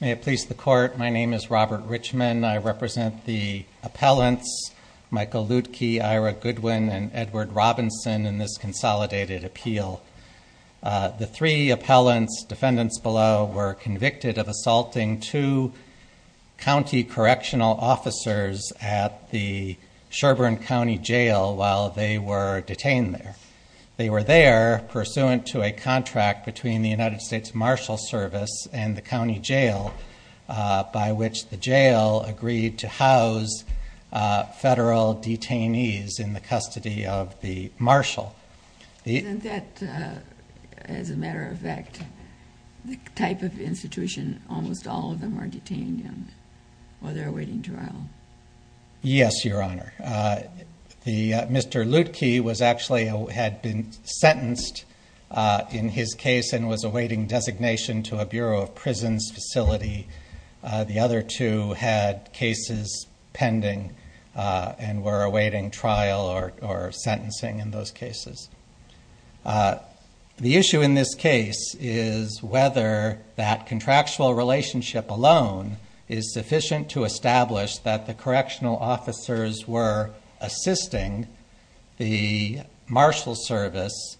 May it please the Court, my name is Robert Richman. I represent the appellants Michael Luedtke, Ira Goodwin, and Edward Robinson in this consolidated appeal. The three appellants, defendants below, were convicted of assaulting two county correctional officers at the Sherbourne County Jail while they were detained there. They were there pursuant to a contract between the United States Marshal Service and the county jail by which the jail agreed to house federal detainees in the custody of the marshal. Isn't that, as a matter of fact, the type of institution almost all of them are detained in while they're awaiting trial? Yes, Your Honor. Mr. Luedtke had been sentenced in his case and was awaiting designation to a Bureau of Prisons facility. The other two had cases pending and were awaiting trial or sentencing in those cases. The issue in this case is whether that contractual relationship alone is sufficient to establish that the correctional officers were assisting the marshal service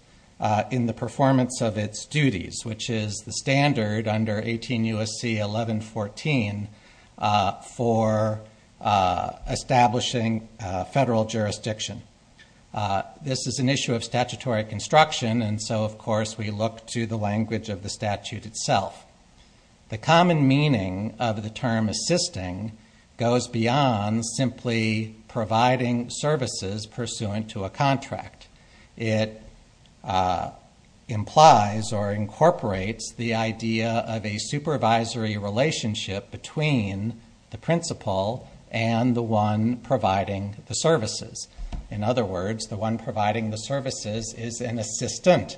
in the performance of its duties, which is the standard under 18 U.S.C. 1114 for establishing federal jurisdiction. This is an issue of statutory construction and so of course we look to the language of the statute itself. The common meaning of the term assisting goes beyond simply providing services pursuant to a contract. It implies or incorporates the idea of a supervisory relationship between the principal and the one providing the services. In other words, the one providing the services is an assistant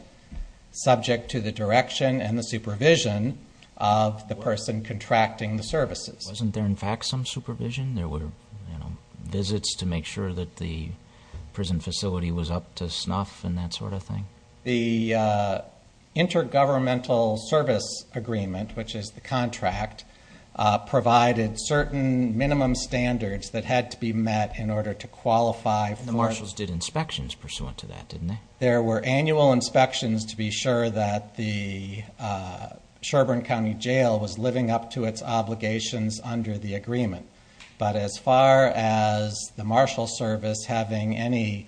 subject to the direction and the supervision of the person contracting the services. Wasn't there in fact some supervision? There were visits to make sure that the prison facility was up to snuff and that sort of thing? The intergovernmental service agreement, which is the contract, provided certain minimum standards that had to be met in order to qualify for- The marshals did inspections pursuant to that, didn't they? There were annual inspections to be sure that the Sherbourne County Jail was living up to its obligations under the agreement. But as far as the marshal service having any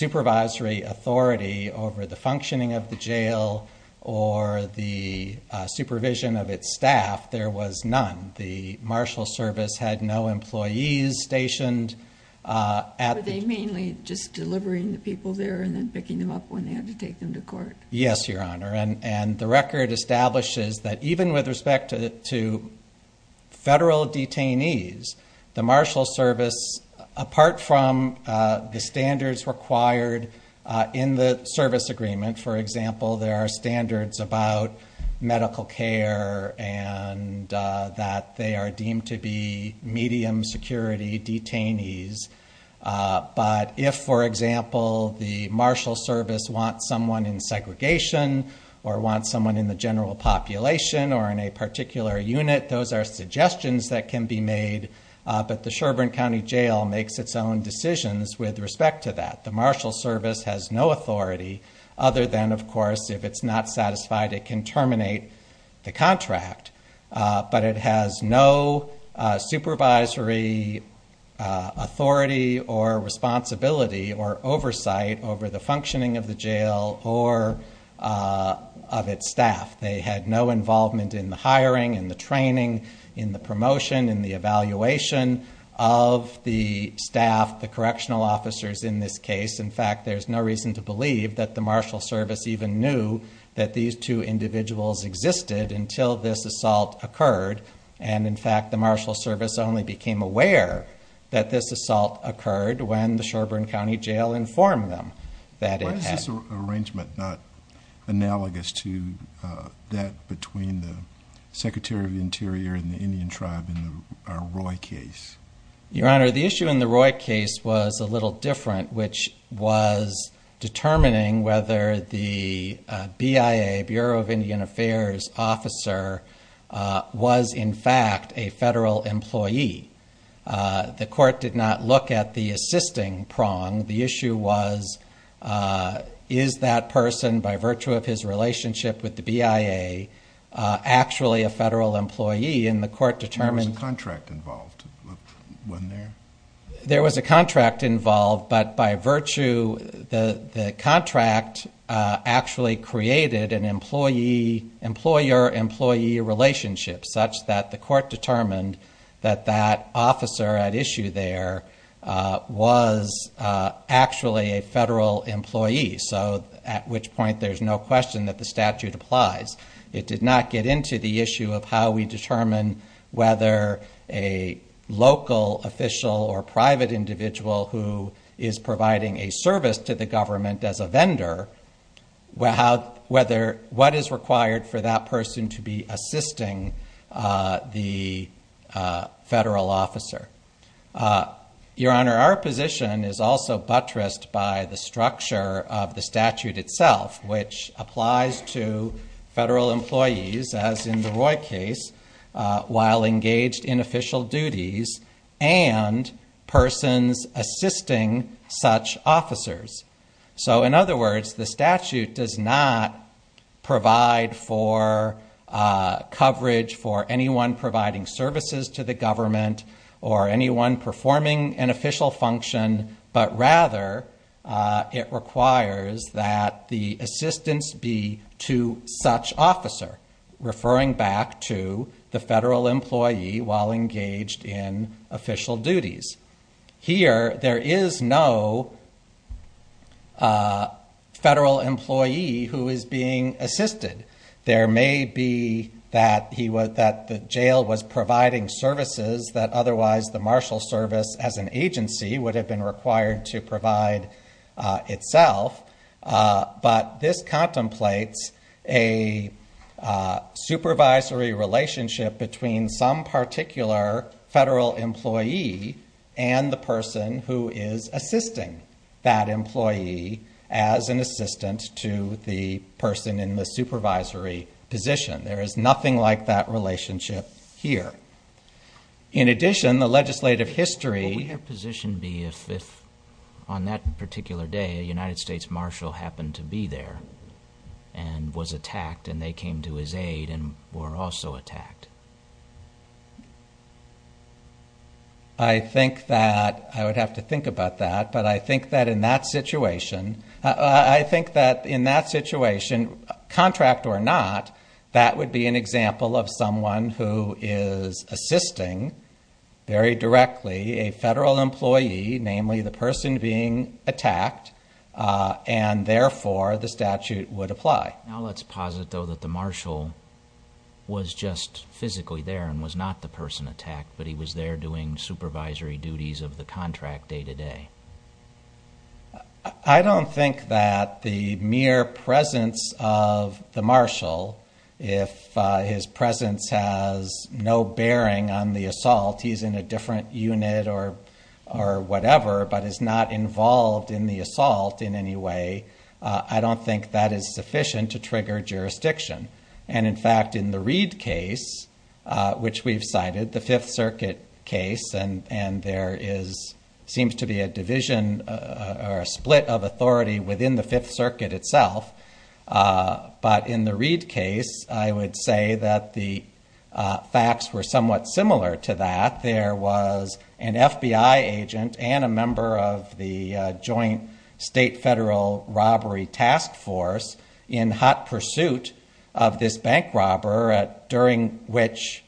supervisory authority over the functioning of the jail or the supervision of its staff, there was none. The marshal service had no employees stationed at the- Yes, Your Honor. And the record establishes that even with respect to federal detainees, the marshal service, apart from the standards required in the service agreement, for example, there are standards about medical care and that they are deemed to be medium security detainees. But if, for example, the marshal service wants someone in segregation or wants someone in the general population or in a particular unit, those are suggestions that can be made. But the Sherbourne County Jail makes its own decisions with respect to that. The marshal service has no authority other than, of course, if it's not satisfied, it can terminate the contract. But it has no supervisory authority or responsibility or oversight over the functioning of the jail or of its staff. They had no involvement in the hiring, in the training, in the promotion, in the evaluation of the staff, the correctional officers in this case. In fact, there's no reason to believe that the marshal service even knew that these two individuals existed until this assault occurred. And, in fact, the marshal service only became aware that this assault occurred when the Sherbourne County Jail informed them that it had- Why is this arrangement not analogous to that between the Secretary of the Interior and the Indian tribe in the Roy case? Your Honor, the issue in the Roy case was a little different, which was determining whether the BIA, Bureau of Indian Affairs officer, was, in fact, a federal employee. The court did not look at the assisting prong. The issue was, is that person, by virtue of his relationship with the BIA, actually a federal employee? And the court determined- One there. There was a contract involved, but by virtue- The contract actually created an employer-employee relationship, such that the court determined that that officer at issue there was actually a federal employee. So, at which point, there's no question that the statute applies. It did not get into the issue of how we determine whether a local official or private individual who is providing a service to the government as a vendor, what is required for that person to be assisting the federal officer. Your Honor, our position is also buttressed by the structure of the statute itself, which applies to federal employees, as in the Roy case, while engaged in official duties, and persons assisting such officers. So, in other words, the statute does not provide for coverage for anyone providing services to the government or anyone performing an official function, but rather, it requires that the assistance be to such officer, referring back to the federal employee while engaged in official duties. Here, there is no federal employee who is being assisted. There may be that the jail was providing services that otherwise the marshal service as an agency would have been required to provide itself, but this contemplates a supervisory relationship between some particular federal employee and the person who is assisting that employee as an assistant to the person in the supervisory position. There is nothing like that relationship here. In addition, the legislative history- What would your position be if, on that particular day, a United States marshal happened to be there and was attacked, and they came to his aid and were also attacked? I would have to think about that, but I think that in that situation, contract or not, that would be an example of someone who is assisting, very directly, a federal employee, namely the person being attacked, and therefore, the statute would apply. Now, let's posit, though, that the marshal was just physically there and was not the person attacked, but he was there doing supervisory duties of the contract day-to-day. I don't think that the mere presence of the marshal, if his presence has no bearing on the assault, he's in a different unit or whatever, but is not involved in the assault in any way, I don't think that is sufficient to trigger jurisdiction. In fact, in the Reid case, which we've cited, the Fifth Circuit case, and there seems to be a division or a split of authority within the Fifth Circuit itself, but in the Reid case, I would say that the facts were somewhat similar to that. The fact that there was an FBI agent and a member of the Joint State Federal Robbery Task Force in hot pursuit of this bank robber during which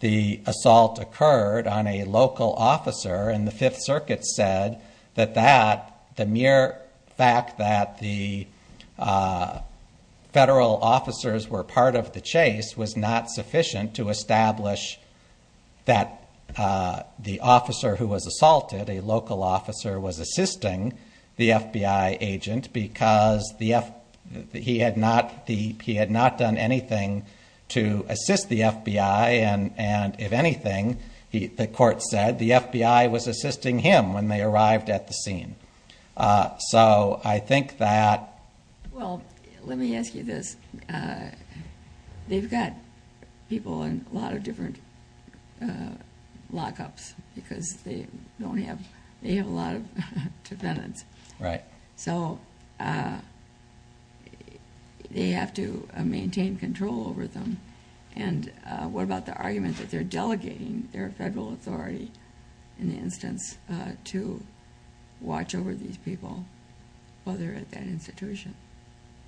the assault occurred on a local officer, and the Fifth Circuit said that the mere fact that the federal officers were part of the chase was not sufficient to establish that there was a bank robber. The officer who was assaulted, a local officer, was assisting the FBI agent because he had not done anything to assist the FBI, and if anything, the court said, the FBI was assisting him when they arrived at the scene. I think that...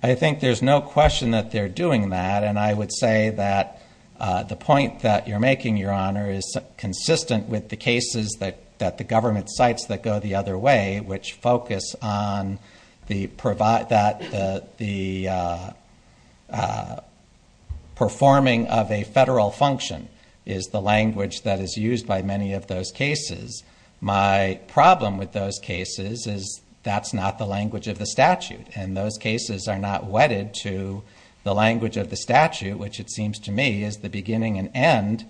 I think there's no question that they're doing that, and I would say that the point that you're making, Your Honor, is consistent with the cases that the government cites that go the other way, which focus on the performing of a federal function is the language that is used by many of those cases. My problem with those cases is that's not the language of the statute, and those cases are not wedded to the language of the statute, which it seems to me is the beginning and end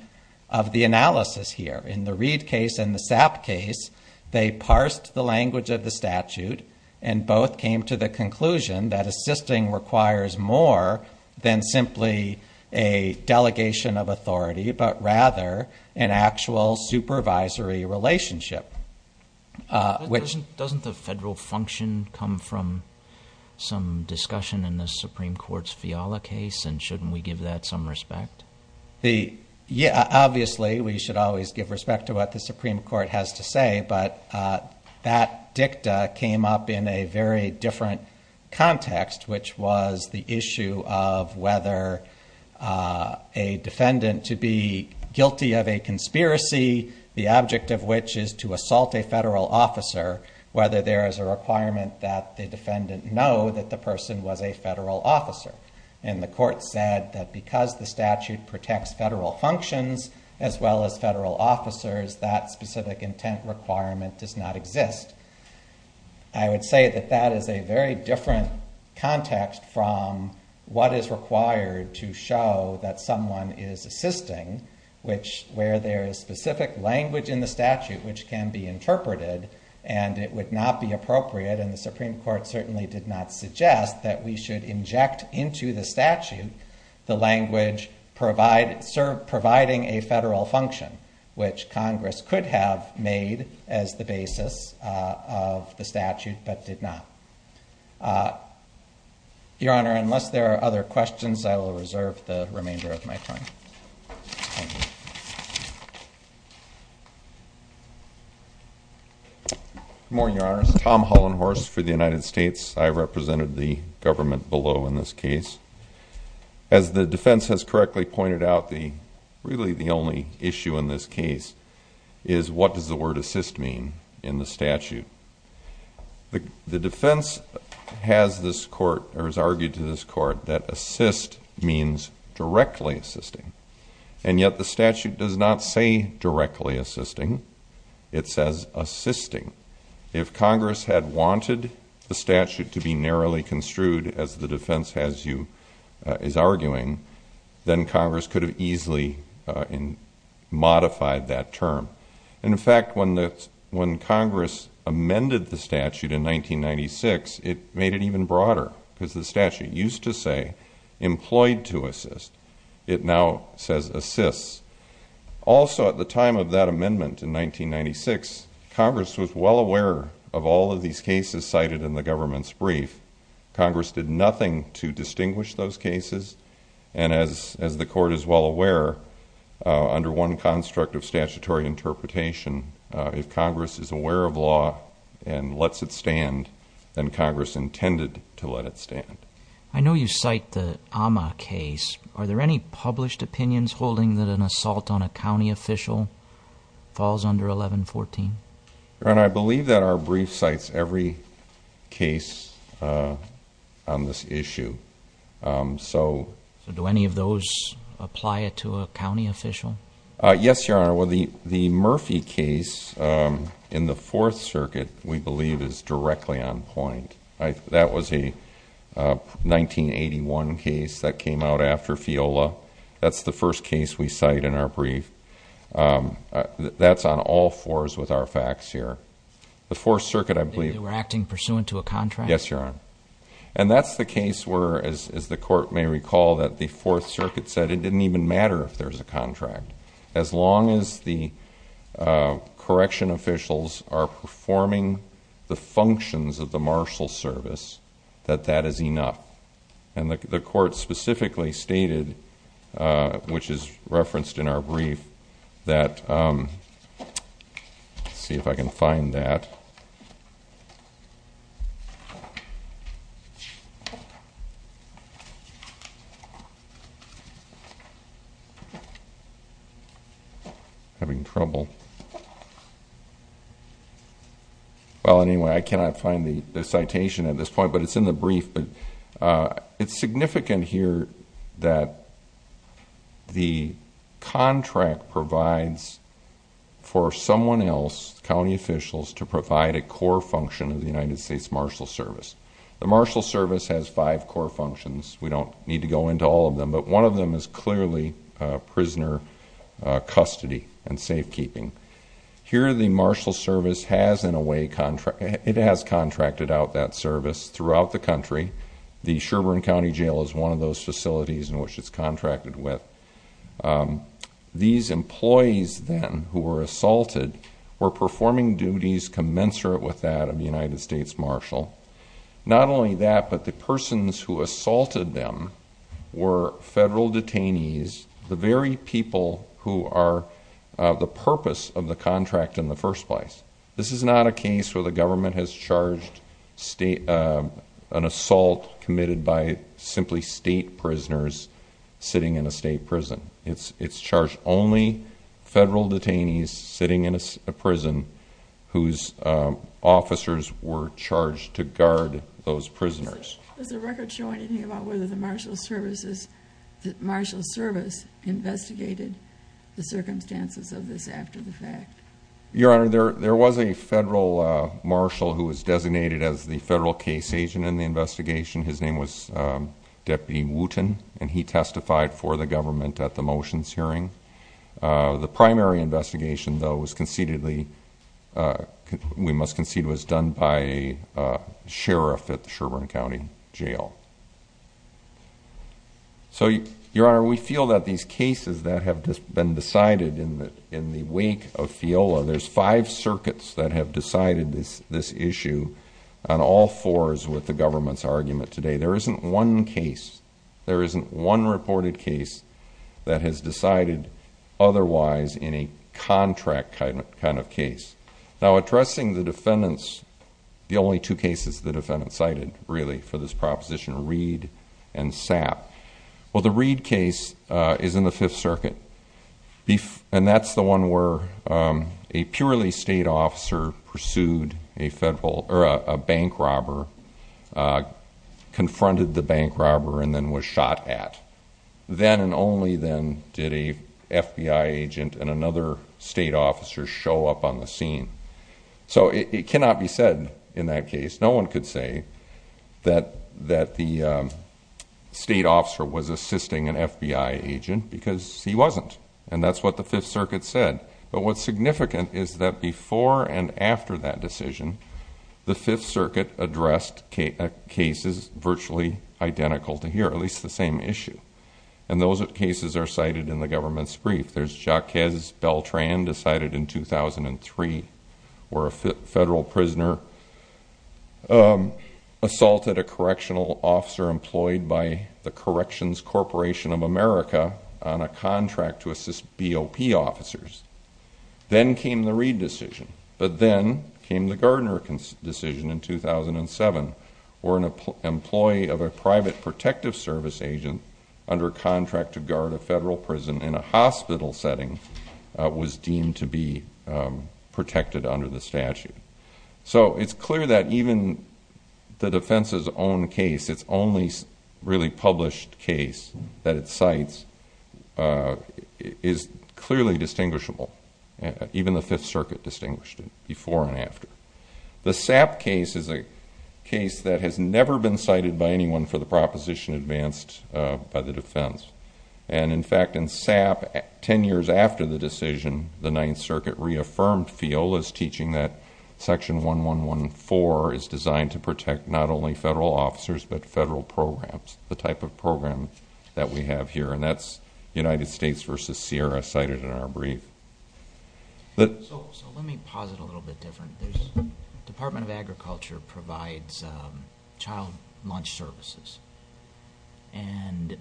of the analysis here. In the Reed case and the Sapp case, they parsed the language of the statute, and both came to the conclusion that assisting requires more than simply a delegation of authority, but rather an actual supervisory relationship, which... Doesn't the federal function come from some discussion in the Supreme Court's Fiala case, and shouldn't we give that some respect? Obviously, we should always give respect to what the Supreme Court has to say, but that dicta came up in a very different context, which was the issue of whether a defendant to be guilty of a conspiracy, the object of which is to assault a federal officer, whether there is a requirement that the defendant know that the person was a federal officer. And the court said that because the statute protects federal functions, as well as federal officers, that specific intent requirement does not exist. I would say that that is a very different context from what is required to show that someone is assisting, which where there is specific language in the statute which can be interpreted, and it would not be appropriate, and the Supreme Court certainly did not suggest that we should inject into the statute the language providing a federal function, which Congress could have made as the basis. of the statute, but did not. Your Honor, unless there are other questions, I will reserve the remainder of my time. Good morning, Your Honor. This is Tom Hollenhorst for the United States. I represented the government below in this case. As the defense has correctly pointed out, really the only issue in this case is what does the word assist mean in the statute? The defense has argued to this court that assist means directly assisting, and yet the statute does not say directly assisting. It says assisting. If Congress had wanted the statute to be narrowly construed as the defense is arguing, then Congress could have easily modified that term. In fact, when Congress amended the statute in 1996, it made it even broader because the statute used to say employed to assist. It now says assists. Also, at the time of that amendment in 1996, Congress was well aware of all of these cases cited in the government's brief. Congress did nothing to distinguish those cases, and as the court is well aware, under one construct of statutory interpretation, if Congress is aware of law and lets it stand, then Congress intended to let it stand. I know you cite the Amma case. Are there any published opinions holding that an assault on a county official falls under 1114? Your Honor, I believe that our brief cites every case on this issue. Do any of those apply to a county official? Yes, Your Honor. The Murphy case in the Fourth Circuit, we believe, is directly on point. That was a 1981 case that came out after FIOLA. That's the first case we cite in our brief. That's on all fours with our facts here. The Fourth Circuit, I believe- They were acting pursuant to a contract? Yes, Your Honor. And that's the case where, as the court may recall, that the Fourth Circuit said it didn't even matter if there was a contract. As long as the correction officials are performing the functions of the marshal service, that that is enough. And the court specifically stated, which is referenced in our brief, that- Let's see if I can find that. I'm having trouble. Well, anyway, I cannot find the citation at this point, but it's in the brief. But it's significant here that the contract provides for someone else, county officials, to provide a core function of the United States Marshal Service. The Marshal Service has five core functions. We don't need to go into all of them, but one of them is clearly prisoner custody and safekeeping. Here, the Marshal Service has, in a way- It has contracted out that service throughout the country. The Sherbourne County Jail is one of those facilities in which it's contracted with. These employees, then, who were assaulted, were performing duties commensurate with that of the United States Marshal. Not only that, but the persons who assaulted them were federal detainees, the very people who are the purpose of the contract in the first place. This is not a case where the government has charged an assault committed by simply state prisoners sitting in a state prison. It's charged only federal detainees sitting in a prison whose officers were charged to guard those prisoners. Does the record show anything about whether the Marshal Service investigated the circumstances of this after the fact? Your Honor, there was a federal marshal who was designated as the federal case agent in the investigation. His name was Deputy Wooten, and he testified for the government at the motions hearing. The primary investigation, though, we must concede was done by a sheriff at the Sherbourne County Jail. Your Honor, we feel that these cases that have been decided in the wake of FEOLA- There's five circuits that have decided this issue, and all four is with the government's argument today. There isn't one case, there isn't one reported case that has decided otherwise in a contract kind of case. Now, addressing the defendants, the only two cases the defendants cited, really, for this proposition are Reed and Sapp. Well, the Reed case is in the Fifth Circuit, and that's the one where a purely state officer pursued a bank robber, confronted the bank robber, and then was shot at. Then and only then did a FBI agent and another state officer show up on the scene. So it cannot be said in that case, no one could say, that the state officer was assisting an FBI agent because he wasn't. And that's what the Fifth Circuit said. But what's significant is that before and after that decision, the Fifth Circuit addressed cases virtually identical to here, at least the same issue. And those cases are cited in the government's brief. There's Jacques Beltran decided in 2003, where a federal prisoner assaulted a correctional officer employed by the Corrections Corporation of America on a contract to assist BOP officers. Then came the Reed decision. But then came the Gardner decision in 2007, where an employee of a private protective service agent under contract to guard a federal prison in a hospital setting was deemed to be protected under the statute. So it's clear that even the defense's own case, its only really published case that it cites, is clearly distinguishable. Even the Fifth Circuit distinguished it before and after. The Sapp case is a case that has never been cited by anyone for the proposition advanced by the defense. And in fact, in Sapp, ten years after the decision, the Ninth Circuit reaffirmed FIOLA's teaching that Section 1114 is designed to protect not only federal officers, but federal programs, the type of program that we have here. And that's United States v. Sierra cited in our brief. So let me posit a little bit different. The Department of Agriculture provides child lunch services. And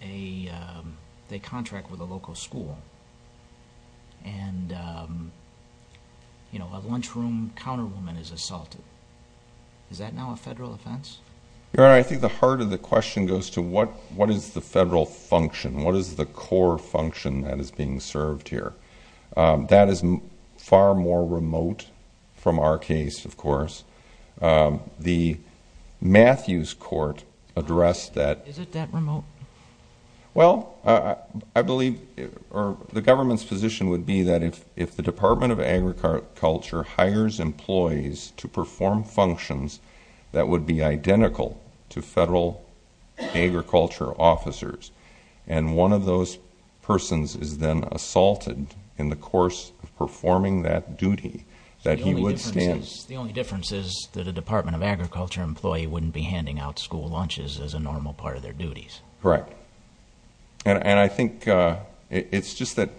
they contract with a local school. And a lunchroom counterwoman is assaulted. Is that now a federal offense? Your Honor, I think the heart of the question goes to what is the federal function? What is the core function that is being served here? That is far more remote from our case, of course. The Matthews Court addressed that. Is it that remote? Well, I believe the government's position would be that if the Department of Agriculture hires employees to perform functions that would be identical to federal agriculture officers, and one of those persons is then assaulted in the course of performing that duty, that he would stand? The only difference is that a Department of Agriculture employee wouldn't be handing out school lunches as a normal part of their duties. Correct. And I think it's just that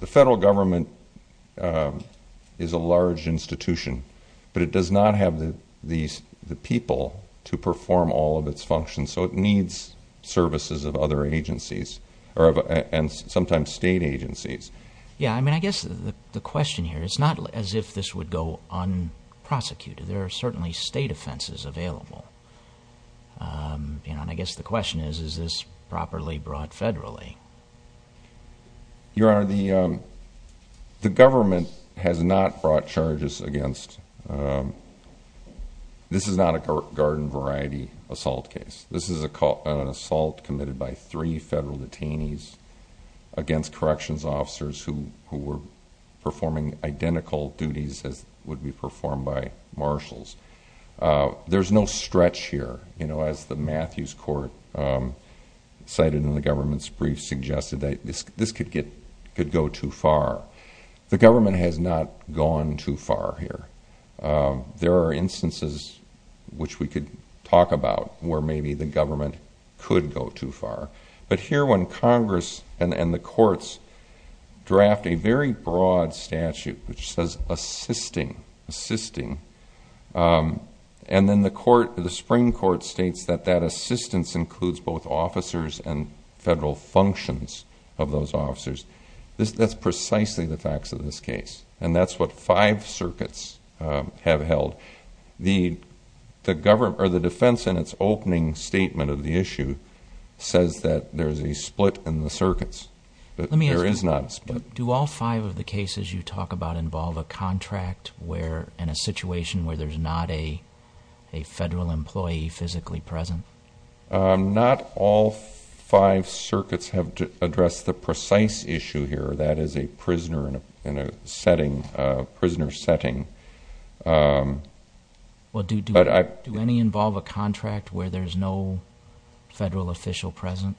the federal government is a large institution, but it does not have the people to perform all of its functions. So it needs services of other agencies, and sometimes state agencies. I guess the question here, it's not as if this would go unprosecuted. There are certainly state offenses available. And I guess the question is, is this properly brought federally? Your Honor, the government has not brought charges against this. This is not a garden variety assault case. This is an assault committed by three federal detainees against corrections officers who were performing identical duties as would be performed by marshals. There's no stretch here. As the Matthews Court cited in the government's brief suggested, this could go too far. The government has not gone too far here. There are instances which we could talk about where maybe the government could go too far. But here when Congress and the courts draft a very broad statute which says assisting, assisting, and then the court, the Supreme Court states that that assistance includes both officers and federal functions of those officers, that's precisely the facts of this case. And that's what five circuits have held. The defense in its opening statement of the issue says that there's a split in the circuits. There is not a split. Let me ask you, do all five of the cases you talk about involve a contract and a situation where there's not a federal employee physically present? Not all five circuits have addressed the precise issue here. That is a prisoner in a setting, a prisoner setting. Do any involve a contract where there's no federal official present?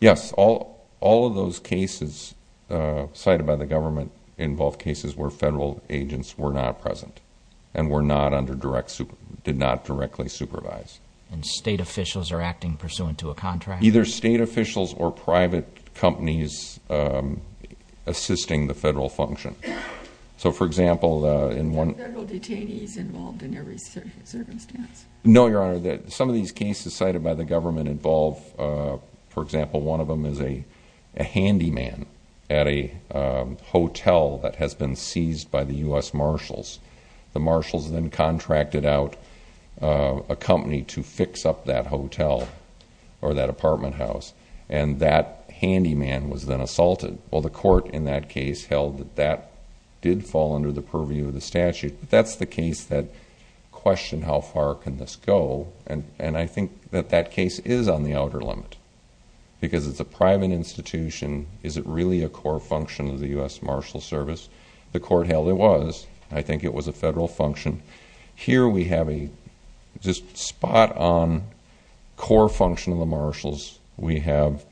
Yes. All of those cases cited by the government involve cases where federal agents were not present and did not directly supervise. And state officials are acting pursuant to a contract? Either state officials or private companies assisting the federal function. So, for example, in one- Are there no detainees involved in every circumstance? No, Your Honor. Some of these cases cited by the government involve, for example, one of them is a handyman at a hotel that has been seized by the U.S. Marshals. The Marshals then contracted out a company to fix up that hotel or that apartment house, and that handyman was then assaulted. Well, the court in that case held that that did fall under the purview of the statute. That's the case that questioned how far can this go, and I think that that case is on the outer limit because it's a private institution. Is it really a core function of the U.S. Marshals Service? The court held it was. I think it was a federal function. Here we have a just spot-on core function of the Marshals. We have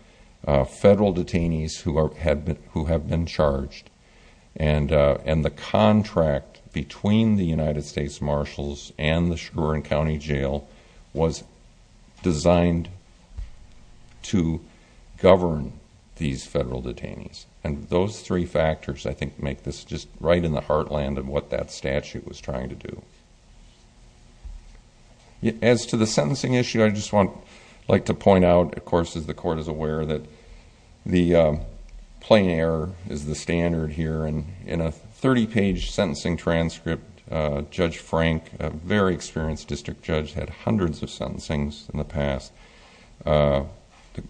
federal detainees who have been charged, and the contract between the United States Marshals and the Chagrin County Jail was designed to govern these federal detainees. Those three factors, I think, make this just right in the heartland of what that statute was trying to do. As to the sentencing issue, I'd just like to point out, of course, as the court is aware that the plain error is the standard here. In a 30-page sentencing transcript, Judge Frank, a very experienced district judge, had hundreds of sentencings in the past. The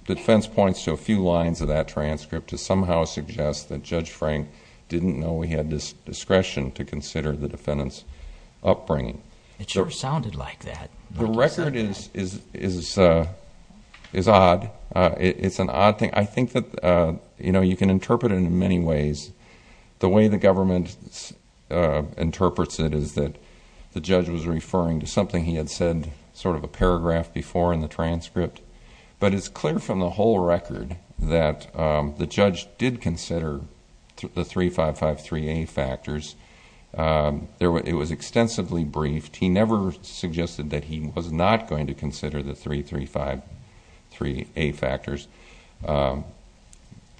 defense points to a few lines of that transcript to somehow suggest that Judge Frank didn't know he had discretion to consider the defendant's upbringing. It sure sounded like that. The record is odd. It's an odd thing. I think that you can interpret it in many ways. The way the government interprets it is that the judge was referring to something he had said sort of a paragraph before in the transcript, but it's clear from the whole record that the judge did consider the 3553A factors. It was extensively briefed. He never suggested that he was not going to consider the 3353A factors.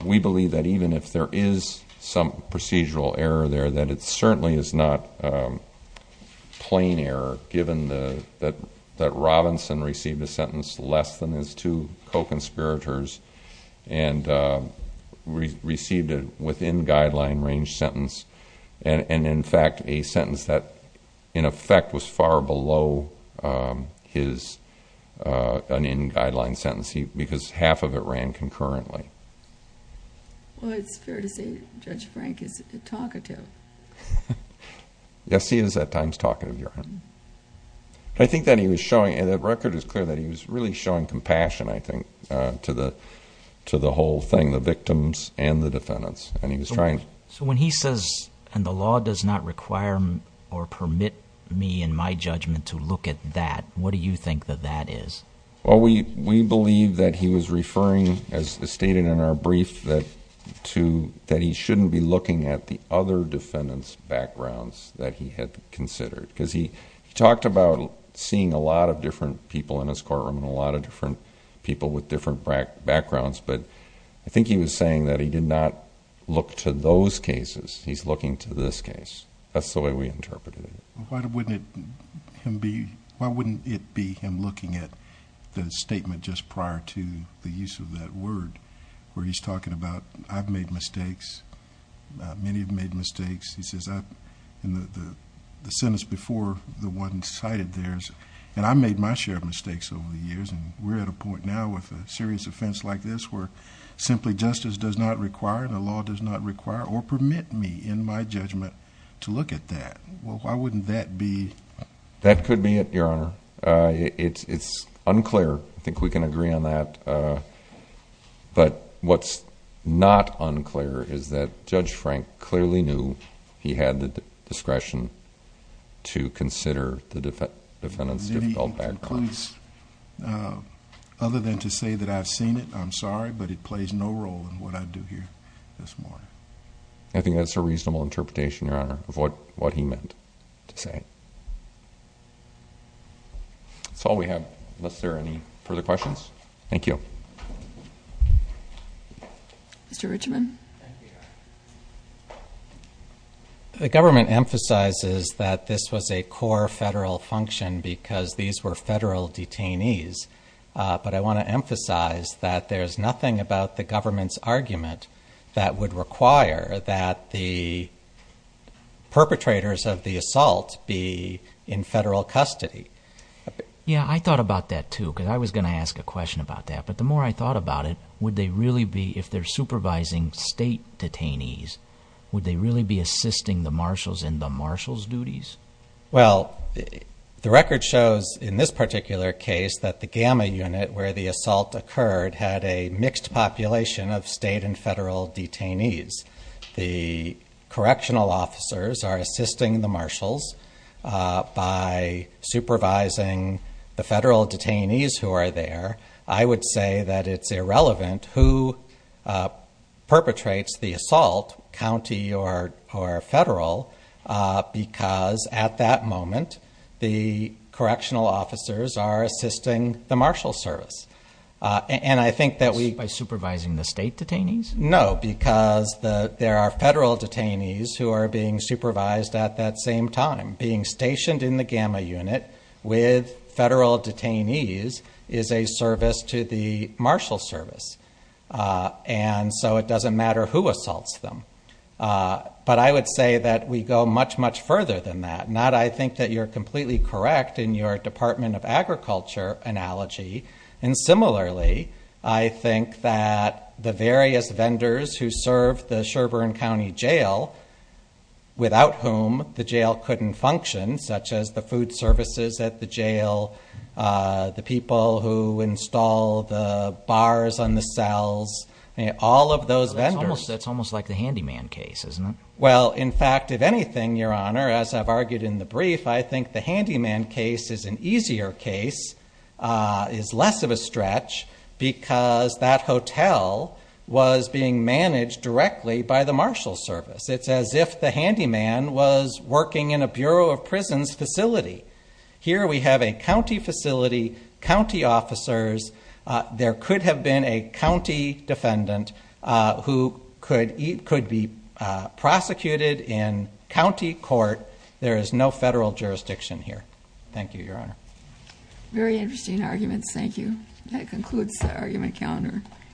We believe that even if there is some procedural error there, that it certainly is not plain error, given that Robinson received a sentence less than his two co-conspirators and received a within-guideline range sentence, and in fact a sentence that in effect was far below an in-guideline sentence because half of it ran concurrently. Well, it's fair to say Judge Frank is talkative. Yes, he is at times talkative, Your Honor. I think that he was showing, and the record is clear, that he was really showing compassion, I think, to the whole thing, the victims and the defendants, and he was trying... So when he says, and the law does not require or permit me in my judgment to look at that, what do you think that that is? Well, we believe that he was referring, as stated in our brief, that he shouldn't be looking at the other defendants' backgrounds that he had considered because he talked about seeing a lot of different people in his courtroom and a lot of different people with different backgrounds, but I think he was saying that he did not look to those cases. He's looking to this case. That's the way we interpreted it. Why wouldn't it be him looking at the statement just prior to the use of that word where he's talking about, I've made mistakes, many have made mistakes? He says, in the sentence before, the one cited there is, and I made my share of mistakes over the years, and we're at a point now with a serious offense like this where simply justice does not require and the law does not require or permit me in my judgment to look at that. Why wouldn't that be... That could be it, Your Honor. It's unclear. I think we can agree on that, but what's not unclear is that Judge Frank clearly knew he had the discretion to consider the defendant's difficult background. It concludes, other than to say that I've seen it, I'm sorry, but it plays no role in what I do here this morning. I think that's a reasonable interpretation, Your Honor, of what he meant to say. That's all we have unless there are any further questions. Thank you. Mr. Richman. The government emphasizes that this was a core federal function because these were federal detainees, but I want to emphasize that there's nothing about the government's argument that would require that the perpetrators of the assault be in federal custody. Yeah, I thought about that, too, because I was going to ask a question about that, but the more I thought about it, would they really be, if they're supervising state detainees, would they really be assisting the marshals in the marshals' duties? Well, the record shows in this particular case that the gamma unit where the assault occurred had a mixed population of state and federal detainees. The correctional officers are assisting the marshals by supervising the federal detainees who are there. I would say that it's irrelevant who perpetrates the assault, county or federal, because at that moment the correctional officers are assisting the marshals' service. By supervising the state detainees? No, because there are federal detainees who are being supervised at that same time. Being stationed in the gamma unit with federal detainees is a service to the marshals' service, and so it doesn't matter who assaults them. But I would say that we go much, much further than that. Not, I think that you're completely correct in your Department of Agriculture analogy, and similarly, I think that the various vendors who serve the Sherbourne County Jail, without whom the jail couldn't function, such as the food services at the jail, the people who install the bars on the cells, all of those vendors. That's almost like the handyman case, isn't it? Well, in fact, if anything, Your Honor, as I've argued in the brief, I think the handyman case is an easier case, is less of a stretch, because that hotel was being managed directly by the marshals' service. It's as if the handyman was working in a Bureau of Prisons facility. Here we have a county facility, county officers. There could have been a county defendant who could be prosecuted in county court. There is no federal jurisdiction here. Thank you, Your Honor. Very interesting arguments. Thank you. That concludes the argument calendar.